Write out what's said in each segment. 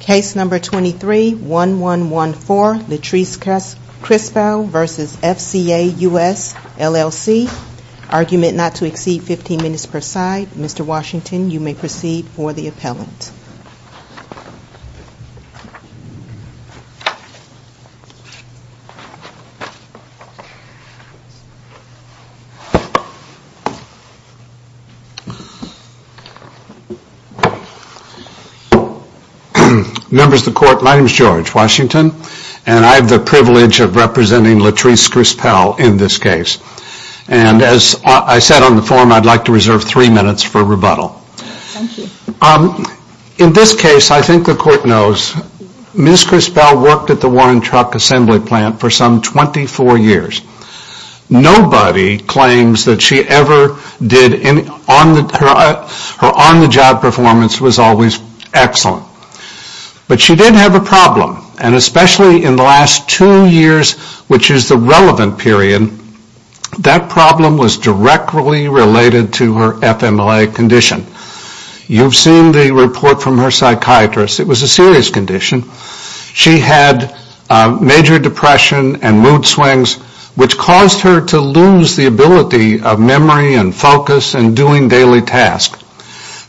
Case number 23-1114, Latrice Crispell v. FCA US, LLC Argument not to exceed 15 minutes per side. Mr. Washington, you may proceed for the appellant. Members of the Court, my name is George Washington, and I have the privilege of representing Latrice Crispell in this case. And as I said on the forum, I'd like to reserve three minutes for rebuttal. In this case, I think the Court knows Ms. Crispell worked at the Warren Truck Assembly Plant for some 24 years. Nobody claims that she ever did any, her on-the-job performance was always excellent. But she did have a problem, and especially in the last two years, which is the relevant period, that problem was directly related to her FMLA condition. You've seen the report from her psychiatrist. It was a serious condition. She had major depression and mood swings, which caused her to lose the ability of memory and focus and doing daily tasks.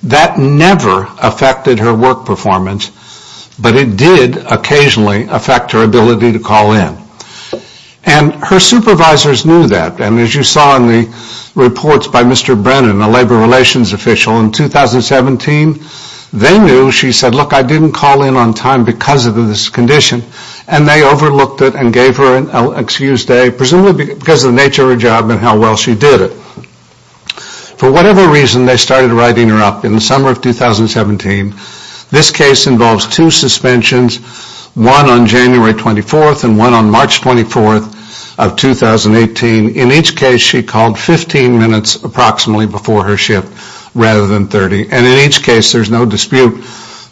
That never affected her work performance, but it did occasionally affect her ability to call in. And her supervisors knew that, and as you saw in the reports by Mr. Brennan, a labor relations official, in 2017, they knew she said, look, I didn't call in on time because of this condition, and they overlooked it and gave her an excused day, presumably because of the nature of her job and how well she did it. For whatever reason, they started writing her up in the summer of 2017. This case involves two suspensions, one on January 24th and one on March 24th of 2018. In each case, she called 15 minutes approximately before her shift, rather than 30. And in each case, there's no dispute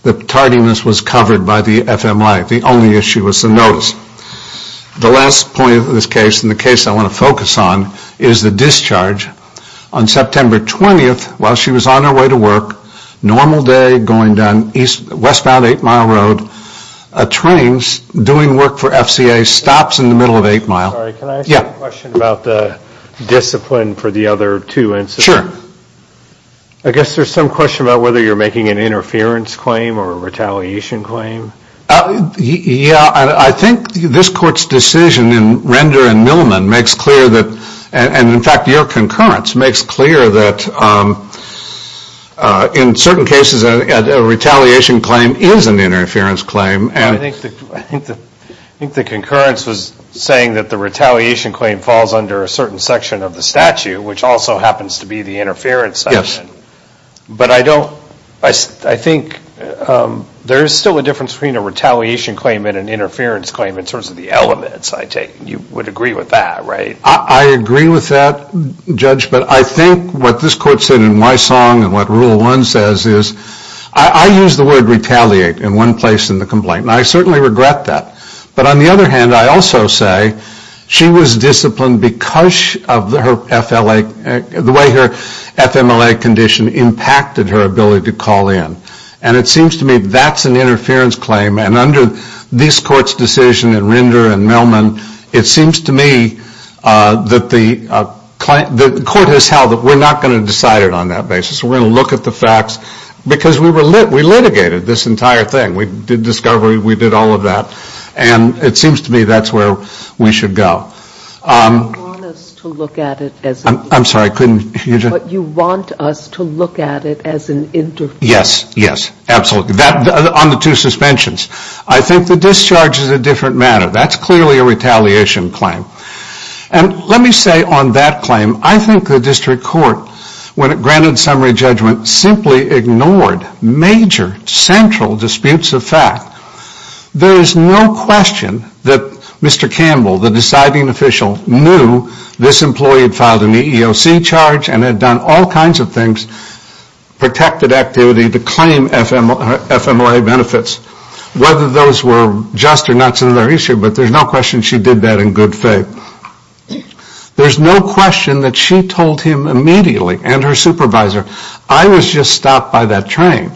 that tardiness was covered by the FMLA. The only issue was the notice. The last point of this case, and the case I want to focus on, is the discharge. On September 20th, while she was on her way to work, normal day, going down westbound 8 Mile Road, trains doing work for FCA stops in the middle of 8 Mile. Sorry, can I ask a question about the discipline for the other two incidents? I guess there's some question about whether you're making an interference claim or a retaliation claim. Yeah, I think this court's decision in Render and Millman makes clear that, and in fact, your concurrence makes clear that in certain cases, a retaliation claim is an interference claim. I think the concurrence was saying that the retaliation claim falls under a certain section of the statute, which also happens to be the interference section. But I don't, I think there's still a difference between a retaliation claim and an interference claim in terms of the elements, I take. You would agree with that, right? I agree with that, Judge, but I think what this court said in Wysong and what Rule 1 says is, I use the word retaliate in one place in the complaint, and I certainly regret that. But on the other hand, I also say she was disciplined because of her FLA, the way her FMLA condition impacted her ability to call in. And it seems to me that's an interference claim, and under this court's decision in Render and Millman, it seems to me that the court has held that we're not going to decide it on that basis. We're going to look at the facts, because we litigated this entire thing. We did discovery, we did all of that, and it seems to me that's where we should go. But you want us to look at it as an interference claim. Yes, yes, absolutely, on the two suspensions. I think the discharge is a different matter. That's clearly a retaliation claim. And let me say on that claim, I think the district court, when it granted summary judgment, simply ignored major central disputes of fact. There is no question that Mr. Campbell, the deciding official, knew this employee had filed an EEOC charge and had done all kinds of things, protected activity to claim FMLA benefits, whether those were just or not is another issue, but there's no question she did that in good faith. There's no question that she told him immediately, and her supervisor, I was just stopped by that train.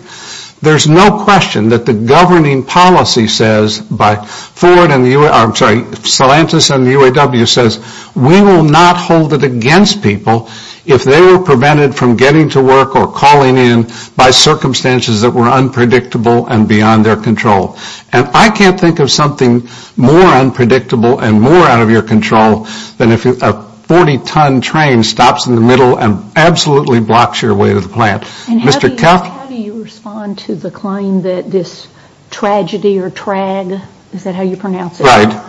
There's no question that the governing policy says, by Ford and the UAW, I'm sorry, Celantis and the UAW says, we will not hold it against people if they were prevented from getting to work or calling in by circumstances that were unpredictable and beyond their control. And I can't think of something more unpredictable and more out of your control than if a 40-ton train stops in the middle and absolutely blocks your way to the plant. And how do you respond to the claim that this tragedy or trag, is that how you pronounce it? Right.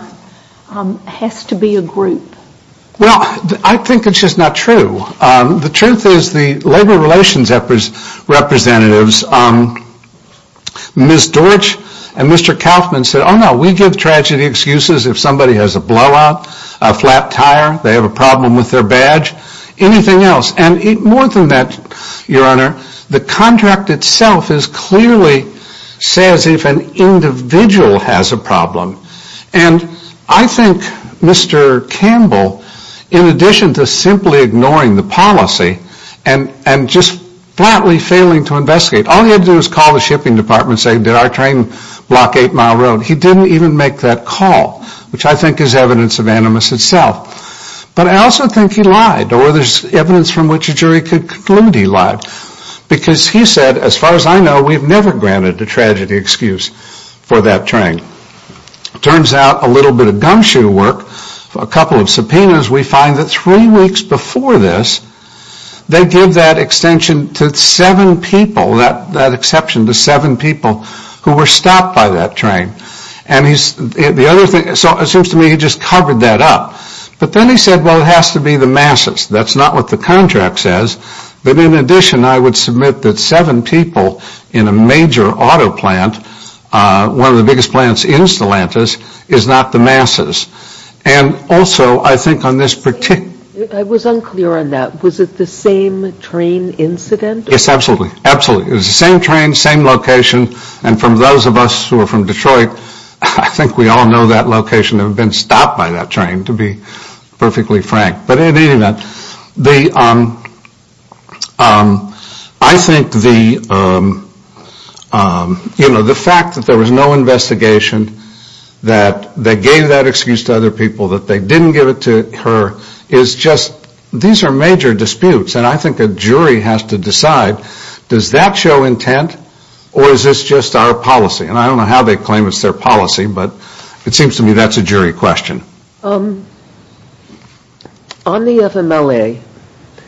Has to be a group? Well, I think it's just not true. The truth is the labor relations representatives, Ms. Dorch and Mr. Kaufman said, oh no, we give tragedy excuses if somebody has a blowout, a flat tire, they have a problem with their badge, anything else. And more than that, your honor, the contract itself is clearly says if an individual has a problem. And I think Mr. Campbell, in addition to simply ignoring the policy and just flatly failing to investigate, all he had to do was call the shipping department and say, did our train block 8 Mile Road? He didn't even make that call, which I think is evidence of animus itself. But I also think he lied, or there's evidence from which a jury could conclude he lied. Because he said, as far as I know, we've never granted a tragedy excuse for that train. Turns out a little bit of gumshoe work, a couple of subpoenas, we find that three weeks before this, they give that extension to seven people, that exception to seven people who were stopped by that train. And the other thing, so it seems to me he just covered that up. But then he said, well, it has to be the masses. That's not what the contract says. But in addition, I would submit that seven people in a major auto plant, one of the biggest plants in Stellantis, is not the masses. And also, I think on this particular ‑‑ I was unclear on that. Was it the same train incident? Yes, absolutely. Absolutely. It was the same train, same location. And from those of us who are from Detroit, I think we all know that location had been stopped by that train, to be perfectly frank. But in any event, I think the fact that there was no investigation, that they gave that excuse to other people, that they didn't give it to her, is just, these are major disputes. And I think a jury has to decide, does that show intent, or is this just our policy? And I don't know how they claim it's their policy, but it seems to me that's a jury question. On the FMLA,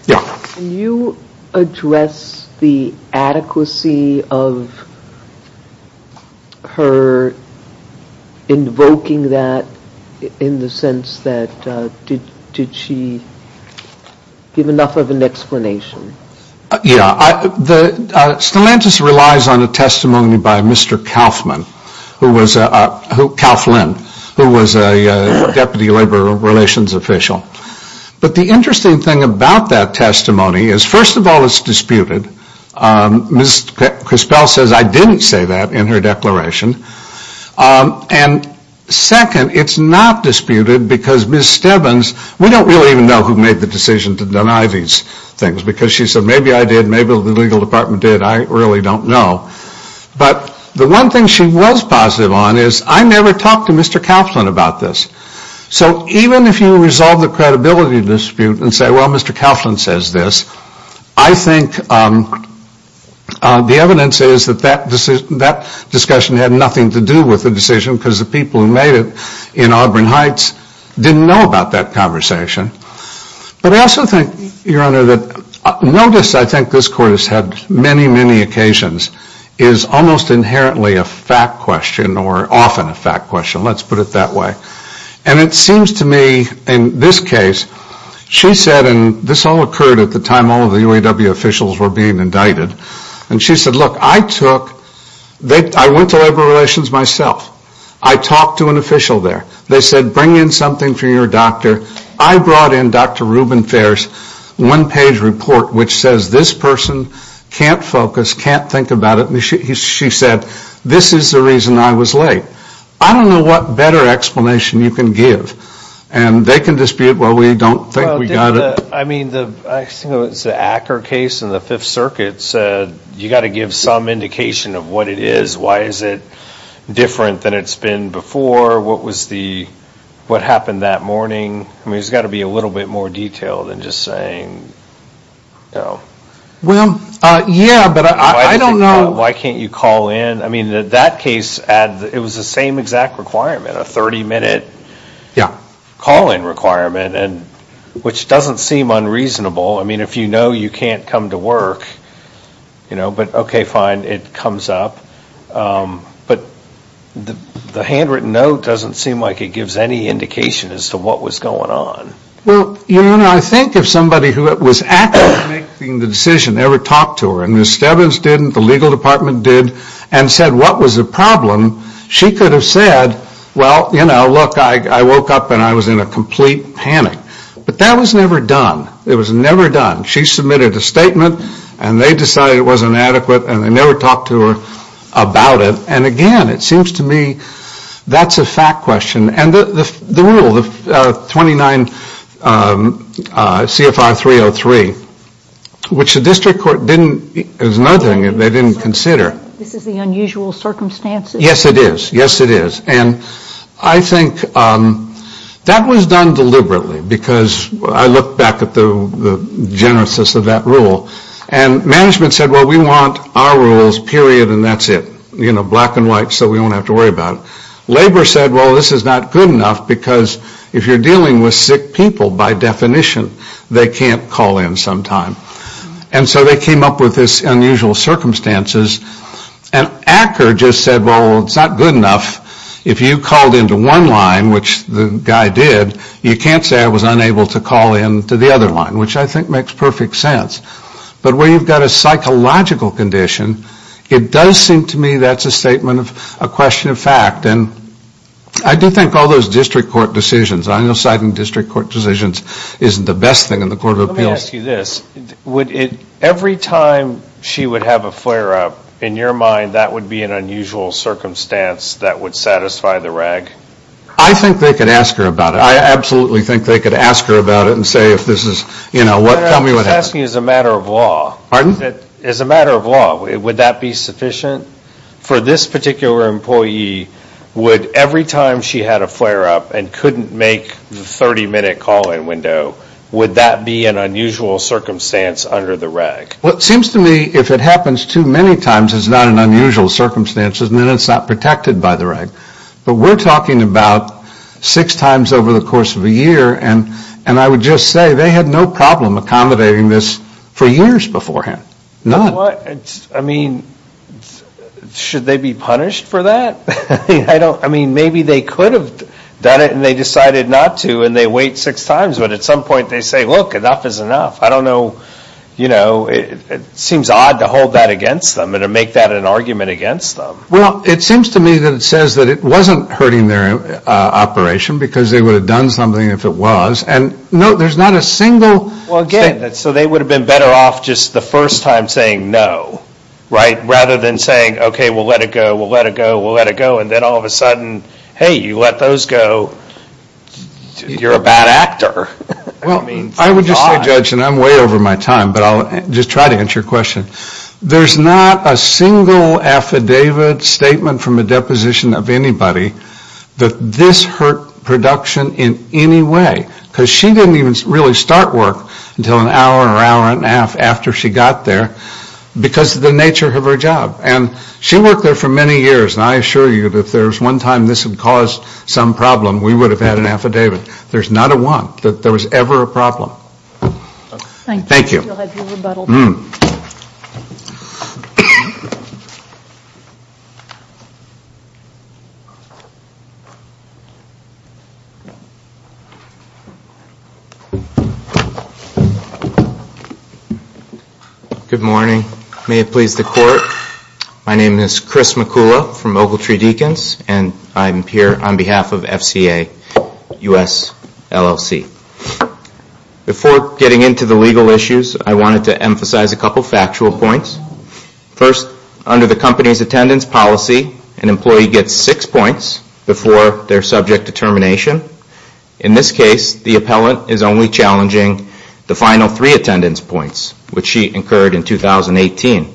can you address the adequacy of her invoking that, in the sense that, did she give enough of an explanation? Yeah. Stellantis relies on a testimony by Mr. Kauflin, who was a Deputy Labor Relations Official. But the interesting thing about that testimony is, first of all, it's disputed. Ms. Crispell says, I didn't say that in her declaration. And second, it's not disputed because Ms. Stebbins, we don't really even know who made the decision to deny these things, because she said, maybe I did, maybe the legal department did, I really don't know. But the one thing she was positive on is, I never talked to Mr. Kauflin about this. So even if you resolve the credibility dispute and say, well, Mr. Kauflin says this, I think the evidence is that that discussion had nothing to do with the decision, because the people who made it in Auburn Heights didn't know about that conversation. But I also think, Your Honor, that notice, I think this Court has had many, many occasions, is almost inherently a fact question, or often a fact question, let's put it that way. And it seems to me, in this case, she said, and this all occurred at the time all of the UAW officials were being indicted, and she said, look, I took, I went to Labor Relations myself. I talked to an official there. They said, bring in something for your doctor. I brought in Dr. Reuben Fair's one-page report which says this person can't focus, can't think about it. She said, this is the reason I was late. I don't know what better explanation you can give. And they can dispute, well, we don't think we got it. I think it was the Acker case in the Fifth Circuit said, you've got to give some indication of what it is. Why is it different than it's been before? What was the, what happened that morning? I mean, there's got to be a little bit more detail than just saying, you know. Well, yeah, but I don't know. Why can't you call in? I mean, that case, it was the same exact requirement, a 30-minute call-in requirement, which doesn't seem unreasonable. I mean, if you know you can't come to work, you know, but okay, fine, it comes up. But the handwritten note doesn't seem like it gives any indication as to what was going on. Well, you know, I think if somebody who was actually making the decision ever talked to her, and Ms. Stebbins didn't, the legal department did, and said what was the problem, she could have said, well, you know, look, I woke up and I was in a complete panic. But that was never done. It was never done. She submitted a statement, and they decided it was inadequate, and they never talked to her about it. And, again, it seems to me that's a fact question. And the rule, the 29 CFR 303, which the district court didn't, there's nothing they didn't consider. This is the unusual circumstances. Yes, it is. Yes, it is. And I think that was done deliberately because I look back at the genesis of that rule. And management said, well, we want our rules, period, and that's it. You know, black and white so we don't have to worry about it. Labor said, well, this is not good enough because if you're dealing with sick people, by definition, they can't call in sometime. And so they came up with this unusual circumstances. And Acker just said, well, it's not good enough. If you called into one line, which the guy did, you can't say I was unable to call in to the other line, which I think makes perfect sense. But where you've got a psychological condition, it does seem to me that's a statement of a question of fact. And I do think all those district court decisions, I know citing district court decisions isn't the best thing in the court of appeals. Let me ask you this. Every time she would have a flare-up, in your mind, that would be an unusual circumstance that would satisfy the RAG? I think they could ask her about it. I absolutely think they could ask her about it and say if this is, you know, tell me what happened. I'm asking you as a matter of law. Pardon? As a matter of law, would that be sufficient? For this particular employee, would every time she had a flare-up and couldn't make the 30-minute call-in window, would that be an unusual circumstance under the RAG? Well, it seems to me if it happens too many times, it's not an unusual circumstance, and then it's not protected by the RAG. But we're talking about six times over the course of a year, and I would just say they had no problem accommodating this for years beforehand, none. I mean, should they be punished for that? I mean, maybe they could have done it and they decided not to and they wait six times, but at some point they say, look, enough is enough. I don't know, you know, it seems odd to hold that against them and to make that an argument against them. Well, it seems to me that it says that it wasn't hurting their operation because they would have done something if it was. And, no, there's not a single statement. Well, again, so they would have been better off just the first time saying no, right, rather than saying, okay, we'll let it go, we'll let it go, we'll let it go, and then all of a sudden, hey, you let those go, you're a bad actor. Well, I would just say, Judge, and I'm way over my time, but I'll just try to answer your question. There's not a single affidavit statement from a deposition of anybody that this hurt production in any way because she didn't even really start work until an hour or hour and a half after she got there because of the nature of her job. And she worked there for many years, and I assure you that if there was one time this had caused some problem, we would have had an affidavit. There's not a one that there was ever a problem. Thank you. We'll have your rebuttal. Good morning. May it please the Court. My name is Chris McCullough from Ogletree Deacons, and I'm here on behalf of FCA US LLC. Before getting into the legal issues, I wanted to emphasize a couple of factual points. First, under the company's attendance policy, an employee gets six points before their subject determination. In this case, the appellant is only challenging the final three attendance points, which she incurred in 2018.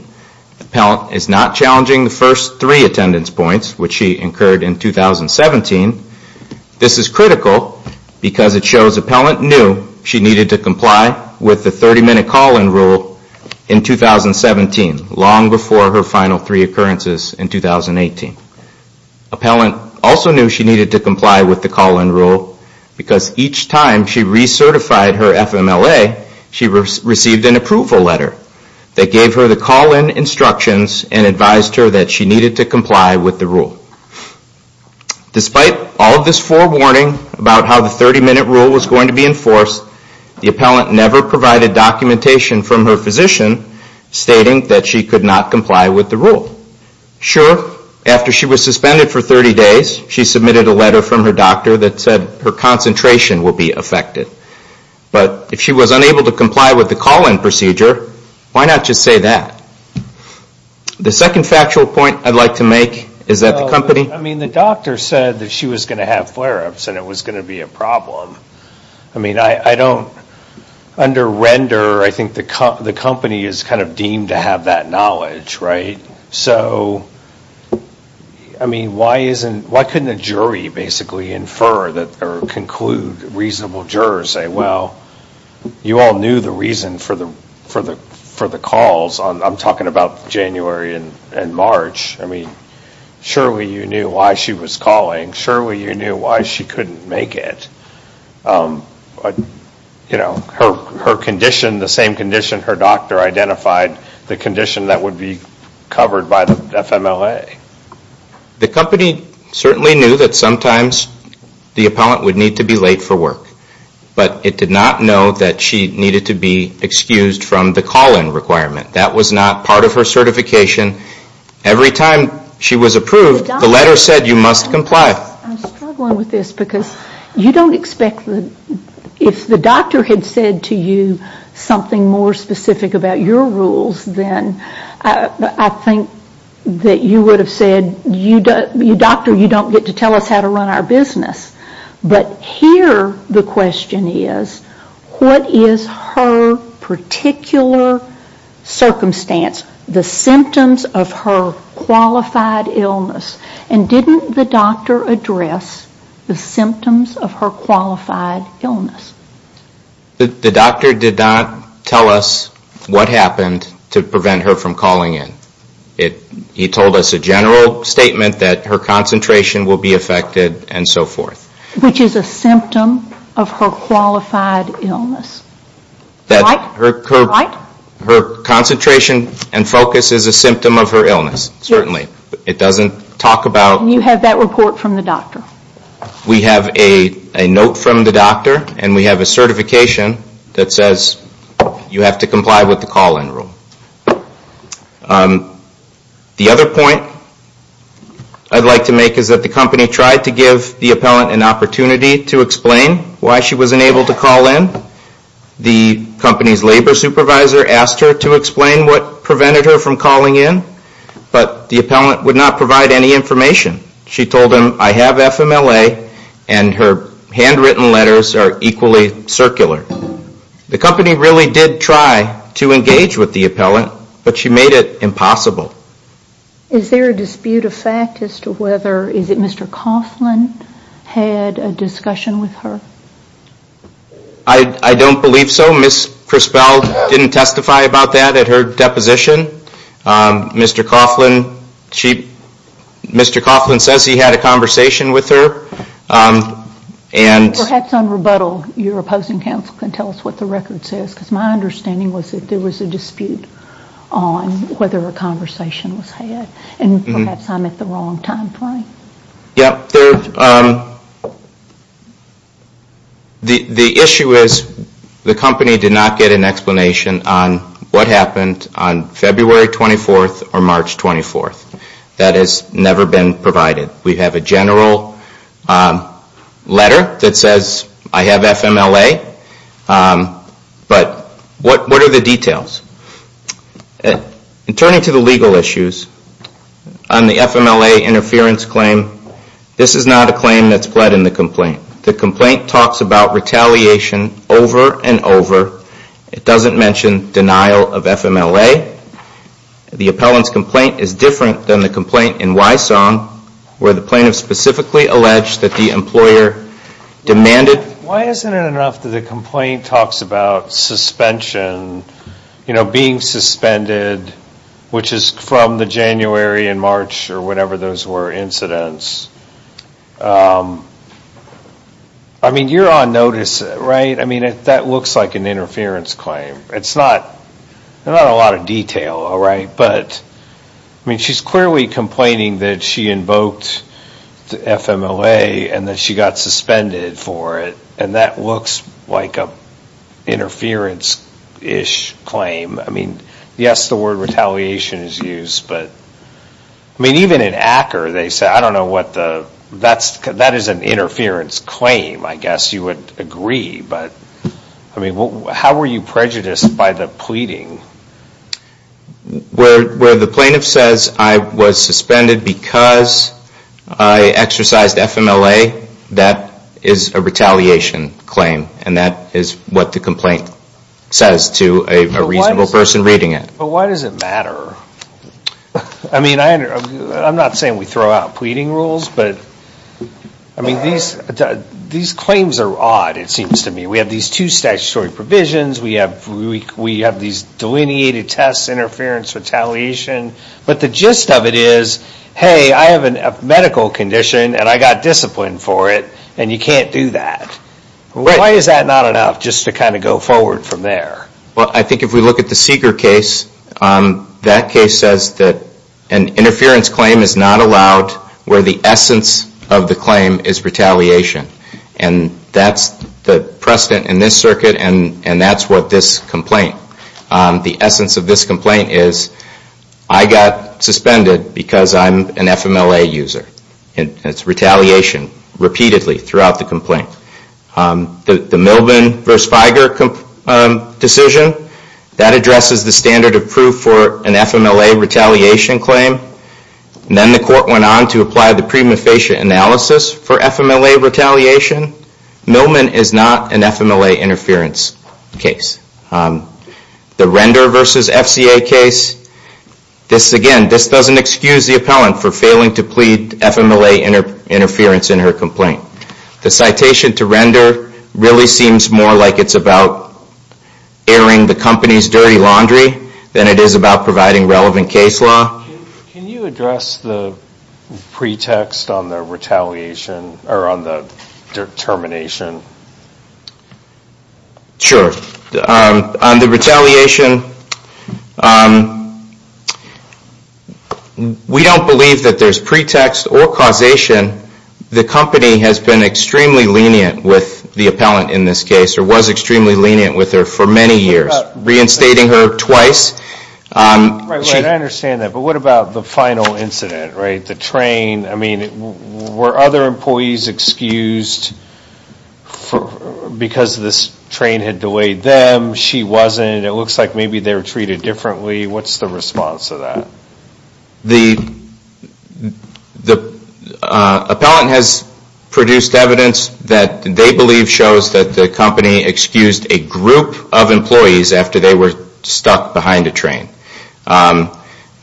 The appellant is not challenging the first three attendance points, which she incurred in 2017. This is critical because it shows appellant knew she needed to comply with the 30-minute call-in rule in 2017, long before her final three occurrences in 2018. Appellant also knew she needed to comply with the call-in rule because each time she recertified her FMLA, she received an approval letter that gave her the call-in instructions and advised her that she needed to comply with the rule. Despite all of this forewarning about how the 30-minute rule was going to be enforced, the appellant never provided documentation from her physician stating that she could not comply with the rule. Sure, after she was suspended for 30 days, she submitted a letter from her doctor that said her concentration would be affected. But if she was unable to comply with the call-in procedure, why not just say that? The second factual point I'd like to make is that the company... I mean, the doctor said that she was going to have flare-ups and it was going to be a problem. I mean, I don't under-render, I think the company is kind of deemed to have that knowledge, right? So, I mean, why couldn't a jury basically infer or conclude, reasonable jurors say, well, you all knew the reason for the calls. I'm talking about January and March. I mean, surely you knew why she was calling. Surely you knew why she couldn't make it. Her condition, the same condition her doctor identified, the condition that would be covered by the FMLA. The company certainly knew that sometimes the appellant would need to be late for work. But it did not know that she needed to be excused from the call-in requirement. That was not part of her certification. Every time she was approved, the letter said you must comply. I'm struggling with this because you don't expect... If the doctor had said to you something more specific about your rules, then I think that you would have said, doctor, you don't get to tell us how to run our business. But here the question is, what is her particular circumstance? The symptoms of her qualified illness. And didn't the doctor address the symptoms of her qualified illness? The doctor did not tell us what happened to prevent her from calling in. He told us a general statement that her concentration will be affected and so forth. Which is a symptom of her qualified illness. Her concentration and focus is a symptom of her illness, certainly. It doesn't talk about... You have that report from the doctor. We have a note from the doctor and we have a certification that says you have to comply with the call-in rule. The other point I'd like to make is that the company tried to give the appellant an opportunity to explain why she wasn't able to call in. The company's labor supervisor asked her to explain what prevented her from calling in. But the appellant would not provide any information. She told him, I have FMLA and her handwritten letters are equally circular. The company really did try to engage with the appellant, but she made it impossible. Is there a dispute of fact as to whether Mr. Coughlin had a discussion with her? I don't believe so. Ms. Crispell didn't testify about that at her deposition. Mr. Coughlin says he had a conversation with her. Perhaps on rebuttal, your opposing counsel can tell us what the record says, because my understanding was that there was a dispute on whether a conversation was had. Perhaps I'm at the wrong time frame. The issue is the company did not get an explanation on what happened on February 24th or March 24th. That has never been provided. We have a general letter that says I have FMLA, but what are the details? In turning to the legal issues, on the FMLA interference claim, this is not a claim that's pled in the complaint. The complaint talks about retaliation over and over. It doesn't mention denial of FMLA. The appellant's complaint is different than the complaint in Wysong, where the plaintiff specifically alleged that the employer demanded. Why isn't it enough that the complaint talks about suspension, being suspended, which is from the January and March, or whatever those were, incidents? You're on notice, right? That looks like an interference claim. It's not a lot of detail, all right? But she's clearly complaining that she invoked the FMLA and that she got suspended for it, and that looks like an interference-ish claim. I mean, yes, the word retaliation is used, but even in Acker, they say, I don't know what the – that is an interference claim, I guess you would agree. But, I mean, how were you prejudiced by the pleading? Where the plaintiff says, I was suspended because I exercised FMLA, that is a retaliation claim, and that is what the complaint says to a reasonable person reading it. But why does it matter? I mean, I'm not saying we throw out pleading rules, but, I mean, these claims are odd, it seems to me. We have these two statutory provisions. We have these delineated tests, interference, retaliation. But the gist of it is, hey, I have a medical condition, and I got disciplined for it, and you can't do that. Why is that not enough, just to kind of go forward from there? Well, I think if we look at the Seeger case, that case says that an interference claim is not allowed where the essence of the claim is retaliation. And that's the precedent in this circuit, and that's what this complaint, the essence of this complaint is, I got suspended because I'm an FMLA user. And it's retaliation, repeatedly, throughout the complaint. The Milben v. Feiger decision, that addresses the standard of proof for an FMLA retaliation claim. Then the court went on to apply the prima facie analysis for FMLA retaliation. Milben is not an FMLA interference case. The Render v. FCA case, this, again, this doesn't excuse the appellant for failing to plead FMLA interference in her complaint. The citation to Render really seems more like it's about airing the company's dirty laundry than it is about providing relevant case law. Can you address the pretext on the retaliation, or on the determination? Sure. On the retaliation, we don't believe that there's pretext or causation. The company has been extremely lenient with the appellant in this case, or was extremely lenient with her for many years, reinstating her twice. Right, right, I understand that. But what about the final incident, right, the train? I mean, were other employees excused because this train had delayed them? She wasn't. It looks like maybe they were treated differently. What's the response to that? The appellant has produced evidence that they believe shows that the company excused a group of employees after they were stuck behind a train.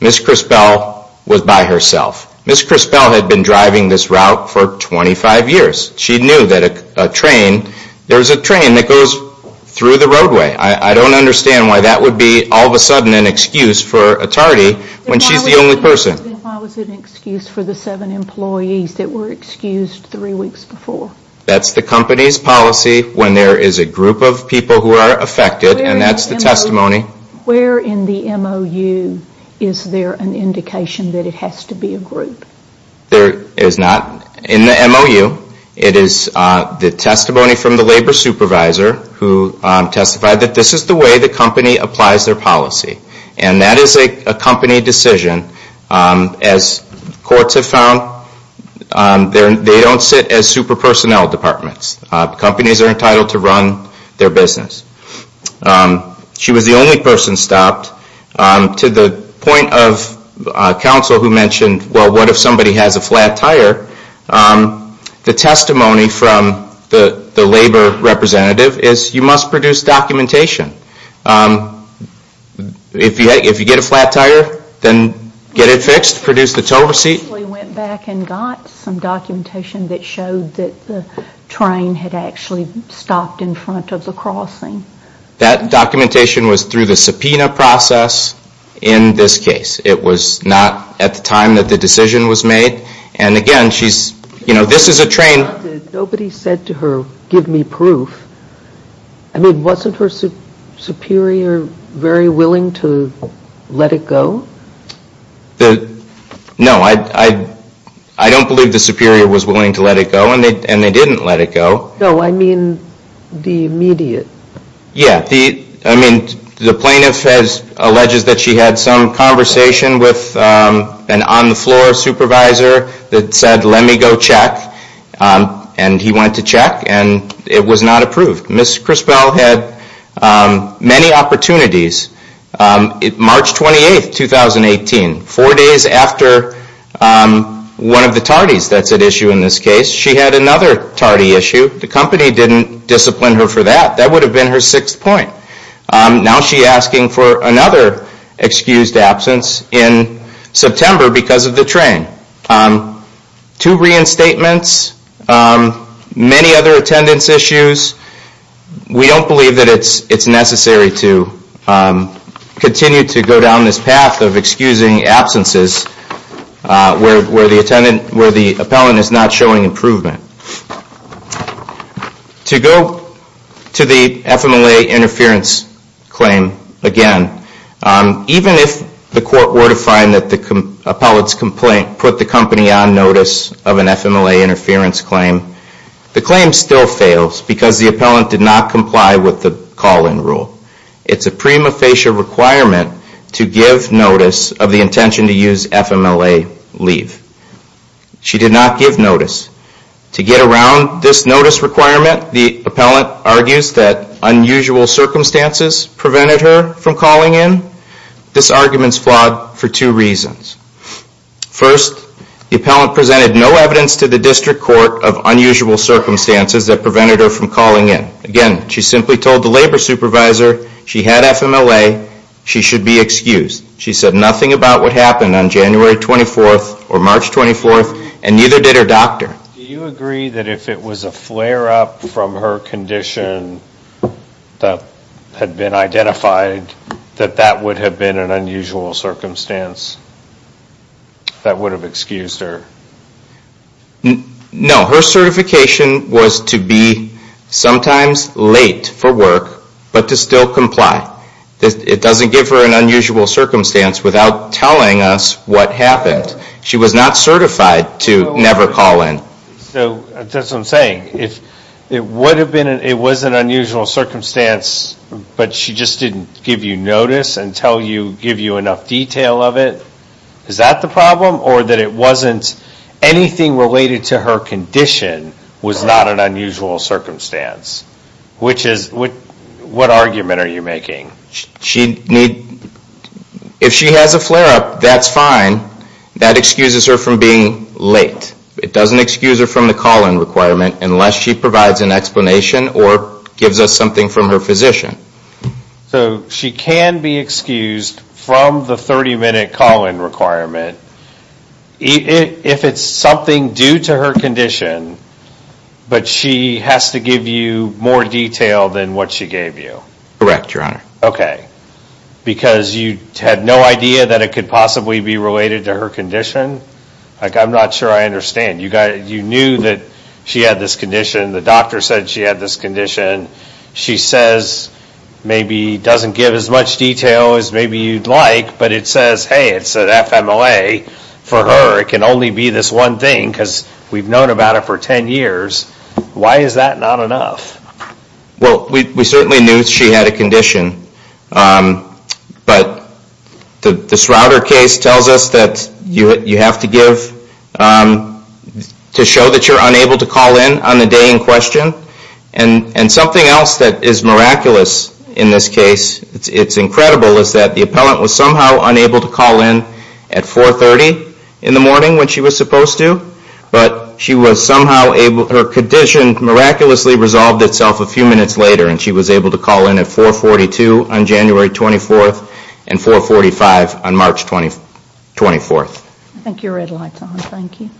Ms. Chrisbell was by herself. Ms. Chrisbell had been driving this route for 25 years. She knew that a train, there's a train that goes through the roadway. I don't understand why that would be all of a sudden an excuse for a tardy when she's the only person. Why was it an excuse for the seven employees that were excused three weeks before? That's the company's policy when there is a group of people who are affected, and that's the testimony. Where in the MOU is there an indication that it has to be a group? There is not in the MOU. It is the testimony from the labor supervisor who testified that this is the way the company applies their policy, and that is a company decision. As courts have found, they don't sit as super personnel departments. Companies are entitled to run their business. She was the only person stopped to the point of counsel who mentioned, well, what if somebody has a flat tire? The testimony from the labor representative is you must produce documentation. If you get a flat tire, then get it fixed, produce the tow receipt. We went back and got some documentation that showed that the train had actually stopped in front of the crossing. That documentation was through the subpoena process in this case. It was not at the time that the decision was made. And again, she's, you know, this is a train. Nobody said to her, give me proof. I mean, wasn't her superior very willing to let it go? No, I don't believe the superior was willing to let it go, and they didn't let it go. No, I mean the immediate. Yeah, I mean, the plaintiff alleges that she had some conversation with an on-the-floor supervisor that said, let me go check. And he went to check, and it was not approved. Ms. Crispell had many opportunities. March 28, 2018, four days after one of the tardies that's at issue in this case, she had another tardy issue. The company didn't discipline her for that. That would have been her sixth point. Now she's asking for another excused absence in September because of the train. Two reinstatements, many other attendance issues. We don't believe that it's necessary to continue to go down this path of excusing absences where the appellant is not showing improvement. To go to the FMLA interference claim again, even if the court were to find that the appellant's complaint put the company on notice of an FMLA interference claim, the claim still fails because the appellant did not comply with the call-in rule. It's a prima facie requirement to give notice of the intention to use FMLA leave. She did not give notice. To get around this notice requirement, the appellant argues that unusual circumstances prevented her from calling in. This argument's flawed for two reasons. First, the appellant presented no evidence to the district court of unusual circumstances that prevented her from calling in. Again, she simply told the labor supervisor she had FMLA, she should be excused. She said nothing about what happened on January 24th or March 24th, and neither did her doctor. Do you agree that if it was a flare-up from her condition that had been identified, that that would have been an unusual circumstance that would have excused her? No. Her certification was to be sometimes late for work, but to still comply. It doesn't give her an unusual circumstance without telling us what happened. She was not certified to never call in. So that's what I'm saying. If it was an unusual circumstance, but she just didn't give you notice and give you enough detail of it, is that the problem, or that it wasn't anything related to her condition was not an unusual circumstance? Which is, what argument are you making? If she has a flare-up, that's fine. That excuses her from being late. It doesn't excuse her from the call-in requirement unless she provides an explanation or gives us something from her physician. So she can be excused from the 30-minute call-in requirement if it's something due to her condition, but she has to give you more detail than what she gave you? Correct, Your Honor. Okay. Because you had no idea that it could possibly be related to her condition? I'm not sure I understand. You knew that she had this condition. The doctor said she had this condition. She says maybe doesn't give as much detail as maybe you'd like, but it says, hey, it's an FMLA for her. It can only be this one thing because we've known about it for 10 years. Why is that not enough? Well, we certainly knew she had a condition, but this router case tells us that you have to give to show that you're unable to call in on the day in question, and something else that is miraculous in this case, it's incredible, is that the appellant was somehow unable to call in at 4.30 in the morning when she was supposed to, but her condition miraculously resolved itself a few minutes later, and she was able to call in at 4.42 on January 24th and 4.45 on March 24th. I think your red light's on. Thank you.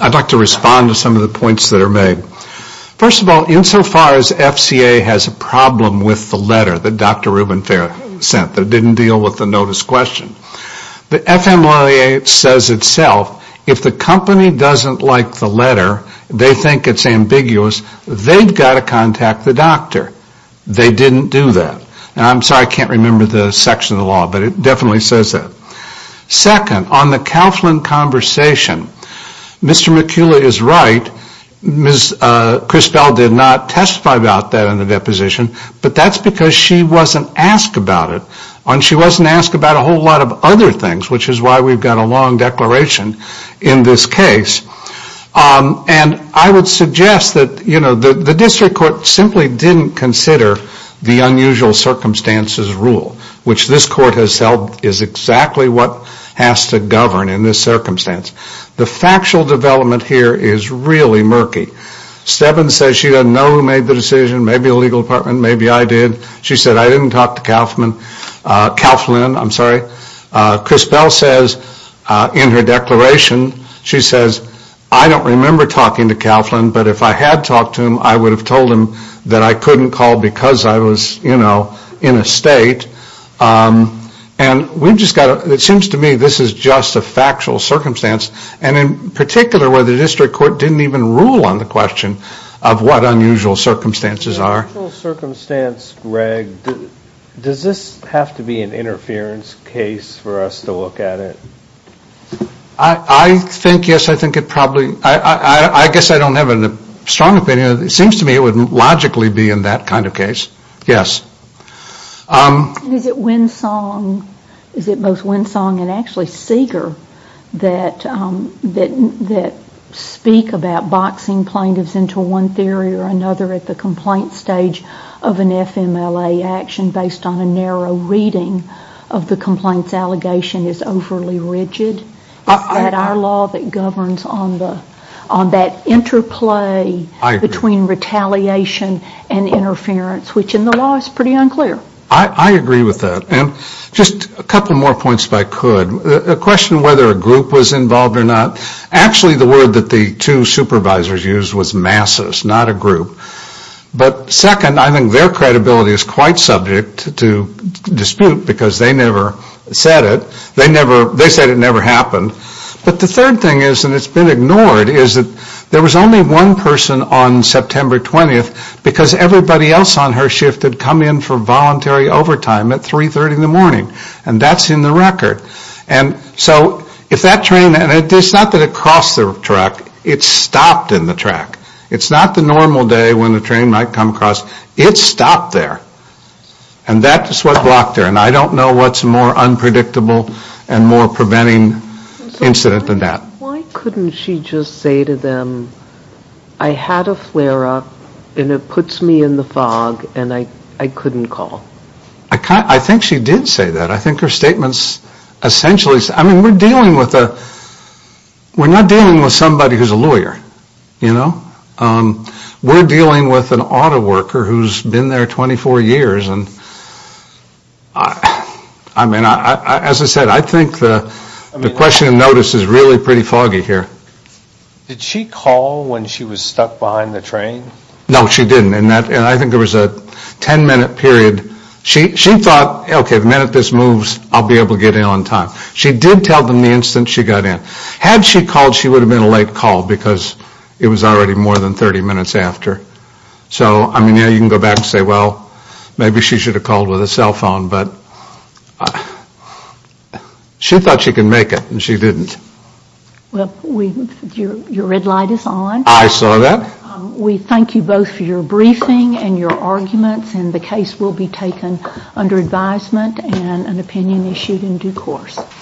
I'd like to respond to some of the points that are made. First of all, insofar as FCA has a problem with the letter that Dr. Rubin sent that didn't deal with the notice question, the FMLA says itself, if the company is unable to call in on the day in question, if the company doesn't like the letter, they think it's ambiguous, they've got to contact the doctor. They didn't do that. And I'm sorry I can't remember the section of the law, but it definitely says that. Second, on the Kauflin conversation, Mr. McCullough is right. Ms. Crisbell did not testify about that in the deposition, but that's because she wasn't asked about it, and she wasn't asked about a whole lot of other things, which is why we've got a long declaration in this case. And I would suggest that the district court simply didn't consider the unusual circumstances rule, which this court has held is exactly what has to govern in this circumstance. The factual development here is really murky. Stebbins says she doesn't know who made the decision, maybe the legal department, maybe I did. She said, I didn't talk to Kauflin. I'm sorry. Crisbell says in her declaration, she says, I don't remember talking to Kauflin, but if I had talked to him, I would have told him that I couldn't call because I was, you know, in a state. And we've just got to, it seems to me this is just a factual circumstance, and in particular where the district court didn't even rule on the question of what unusual circumstances are. Factual circumstance, Greg, does this have to be an interference case for us to look at it? I think, yes, I think it probably, I guess I don't have a strong opinion. It seems to me it would logically be in that kind of case, yes. Is it Winsong, is it both Winsong and actually Seeger that speak about boxing plaintiffs into one theory or another at the complaint stage of an FMLA action based on a narrow reading of the complaint's allegation is overly rigid? Is that our law that governs on that interplay between retaliation and interference, which in the law is pretty unclear. I agree with that. And just a couple more points if I could. A question whether a group was involved or not. Actually the word that the two supervisors used was masses, not a group. But second, I think their credibility is quite subject to dispute because they never said it. They said it never happened. But the third thing is, and it's been ignored, is that there was only one person on September 20th because everybody else on her shift had come in for voluntary overtime at 3.30 in the morning. And that's in the record. And so if that train, and it's not that it crossed the track, it stopped in the track. It's not the normal day when the train might come across. It stopped there. And that is what blocked her. And I don't know what's more unpredictable and more preventing incident than that. Why couldn't she just say to them, I had a flare-up and it puts me in the fog and I couldn't call? I think she did say that. I think her statements essentially, I mean, we're dealing with a, we're not dealing with somebody who's a lawyer, you know. We're dealing with an auto worker who's been there 24 years. And I mean, as I said, I think the question of notice is really pretty foggy here. Did she call when she was stuck behind the train? No, she didn't. And I think there was a ten-minute period. She thought, okay, the minute this moves, I'll be able to get in on time. She did tell them the instant she got in. Had she called, she would have been a late call because it was already more than 30 minutes after. So, I mean, yeah, you can go back and say, well, maybe she should have called with a cell phone. But she thought she could make it and she didn't. Well, your red light is on. I saw that. We thank you both for your briefing and your arguments. And the case will be taken under advisement and an opinion issued in due course.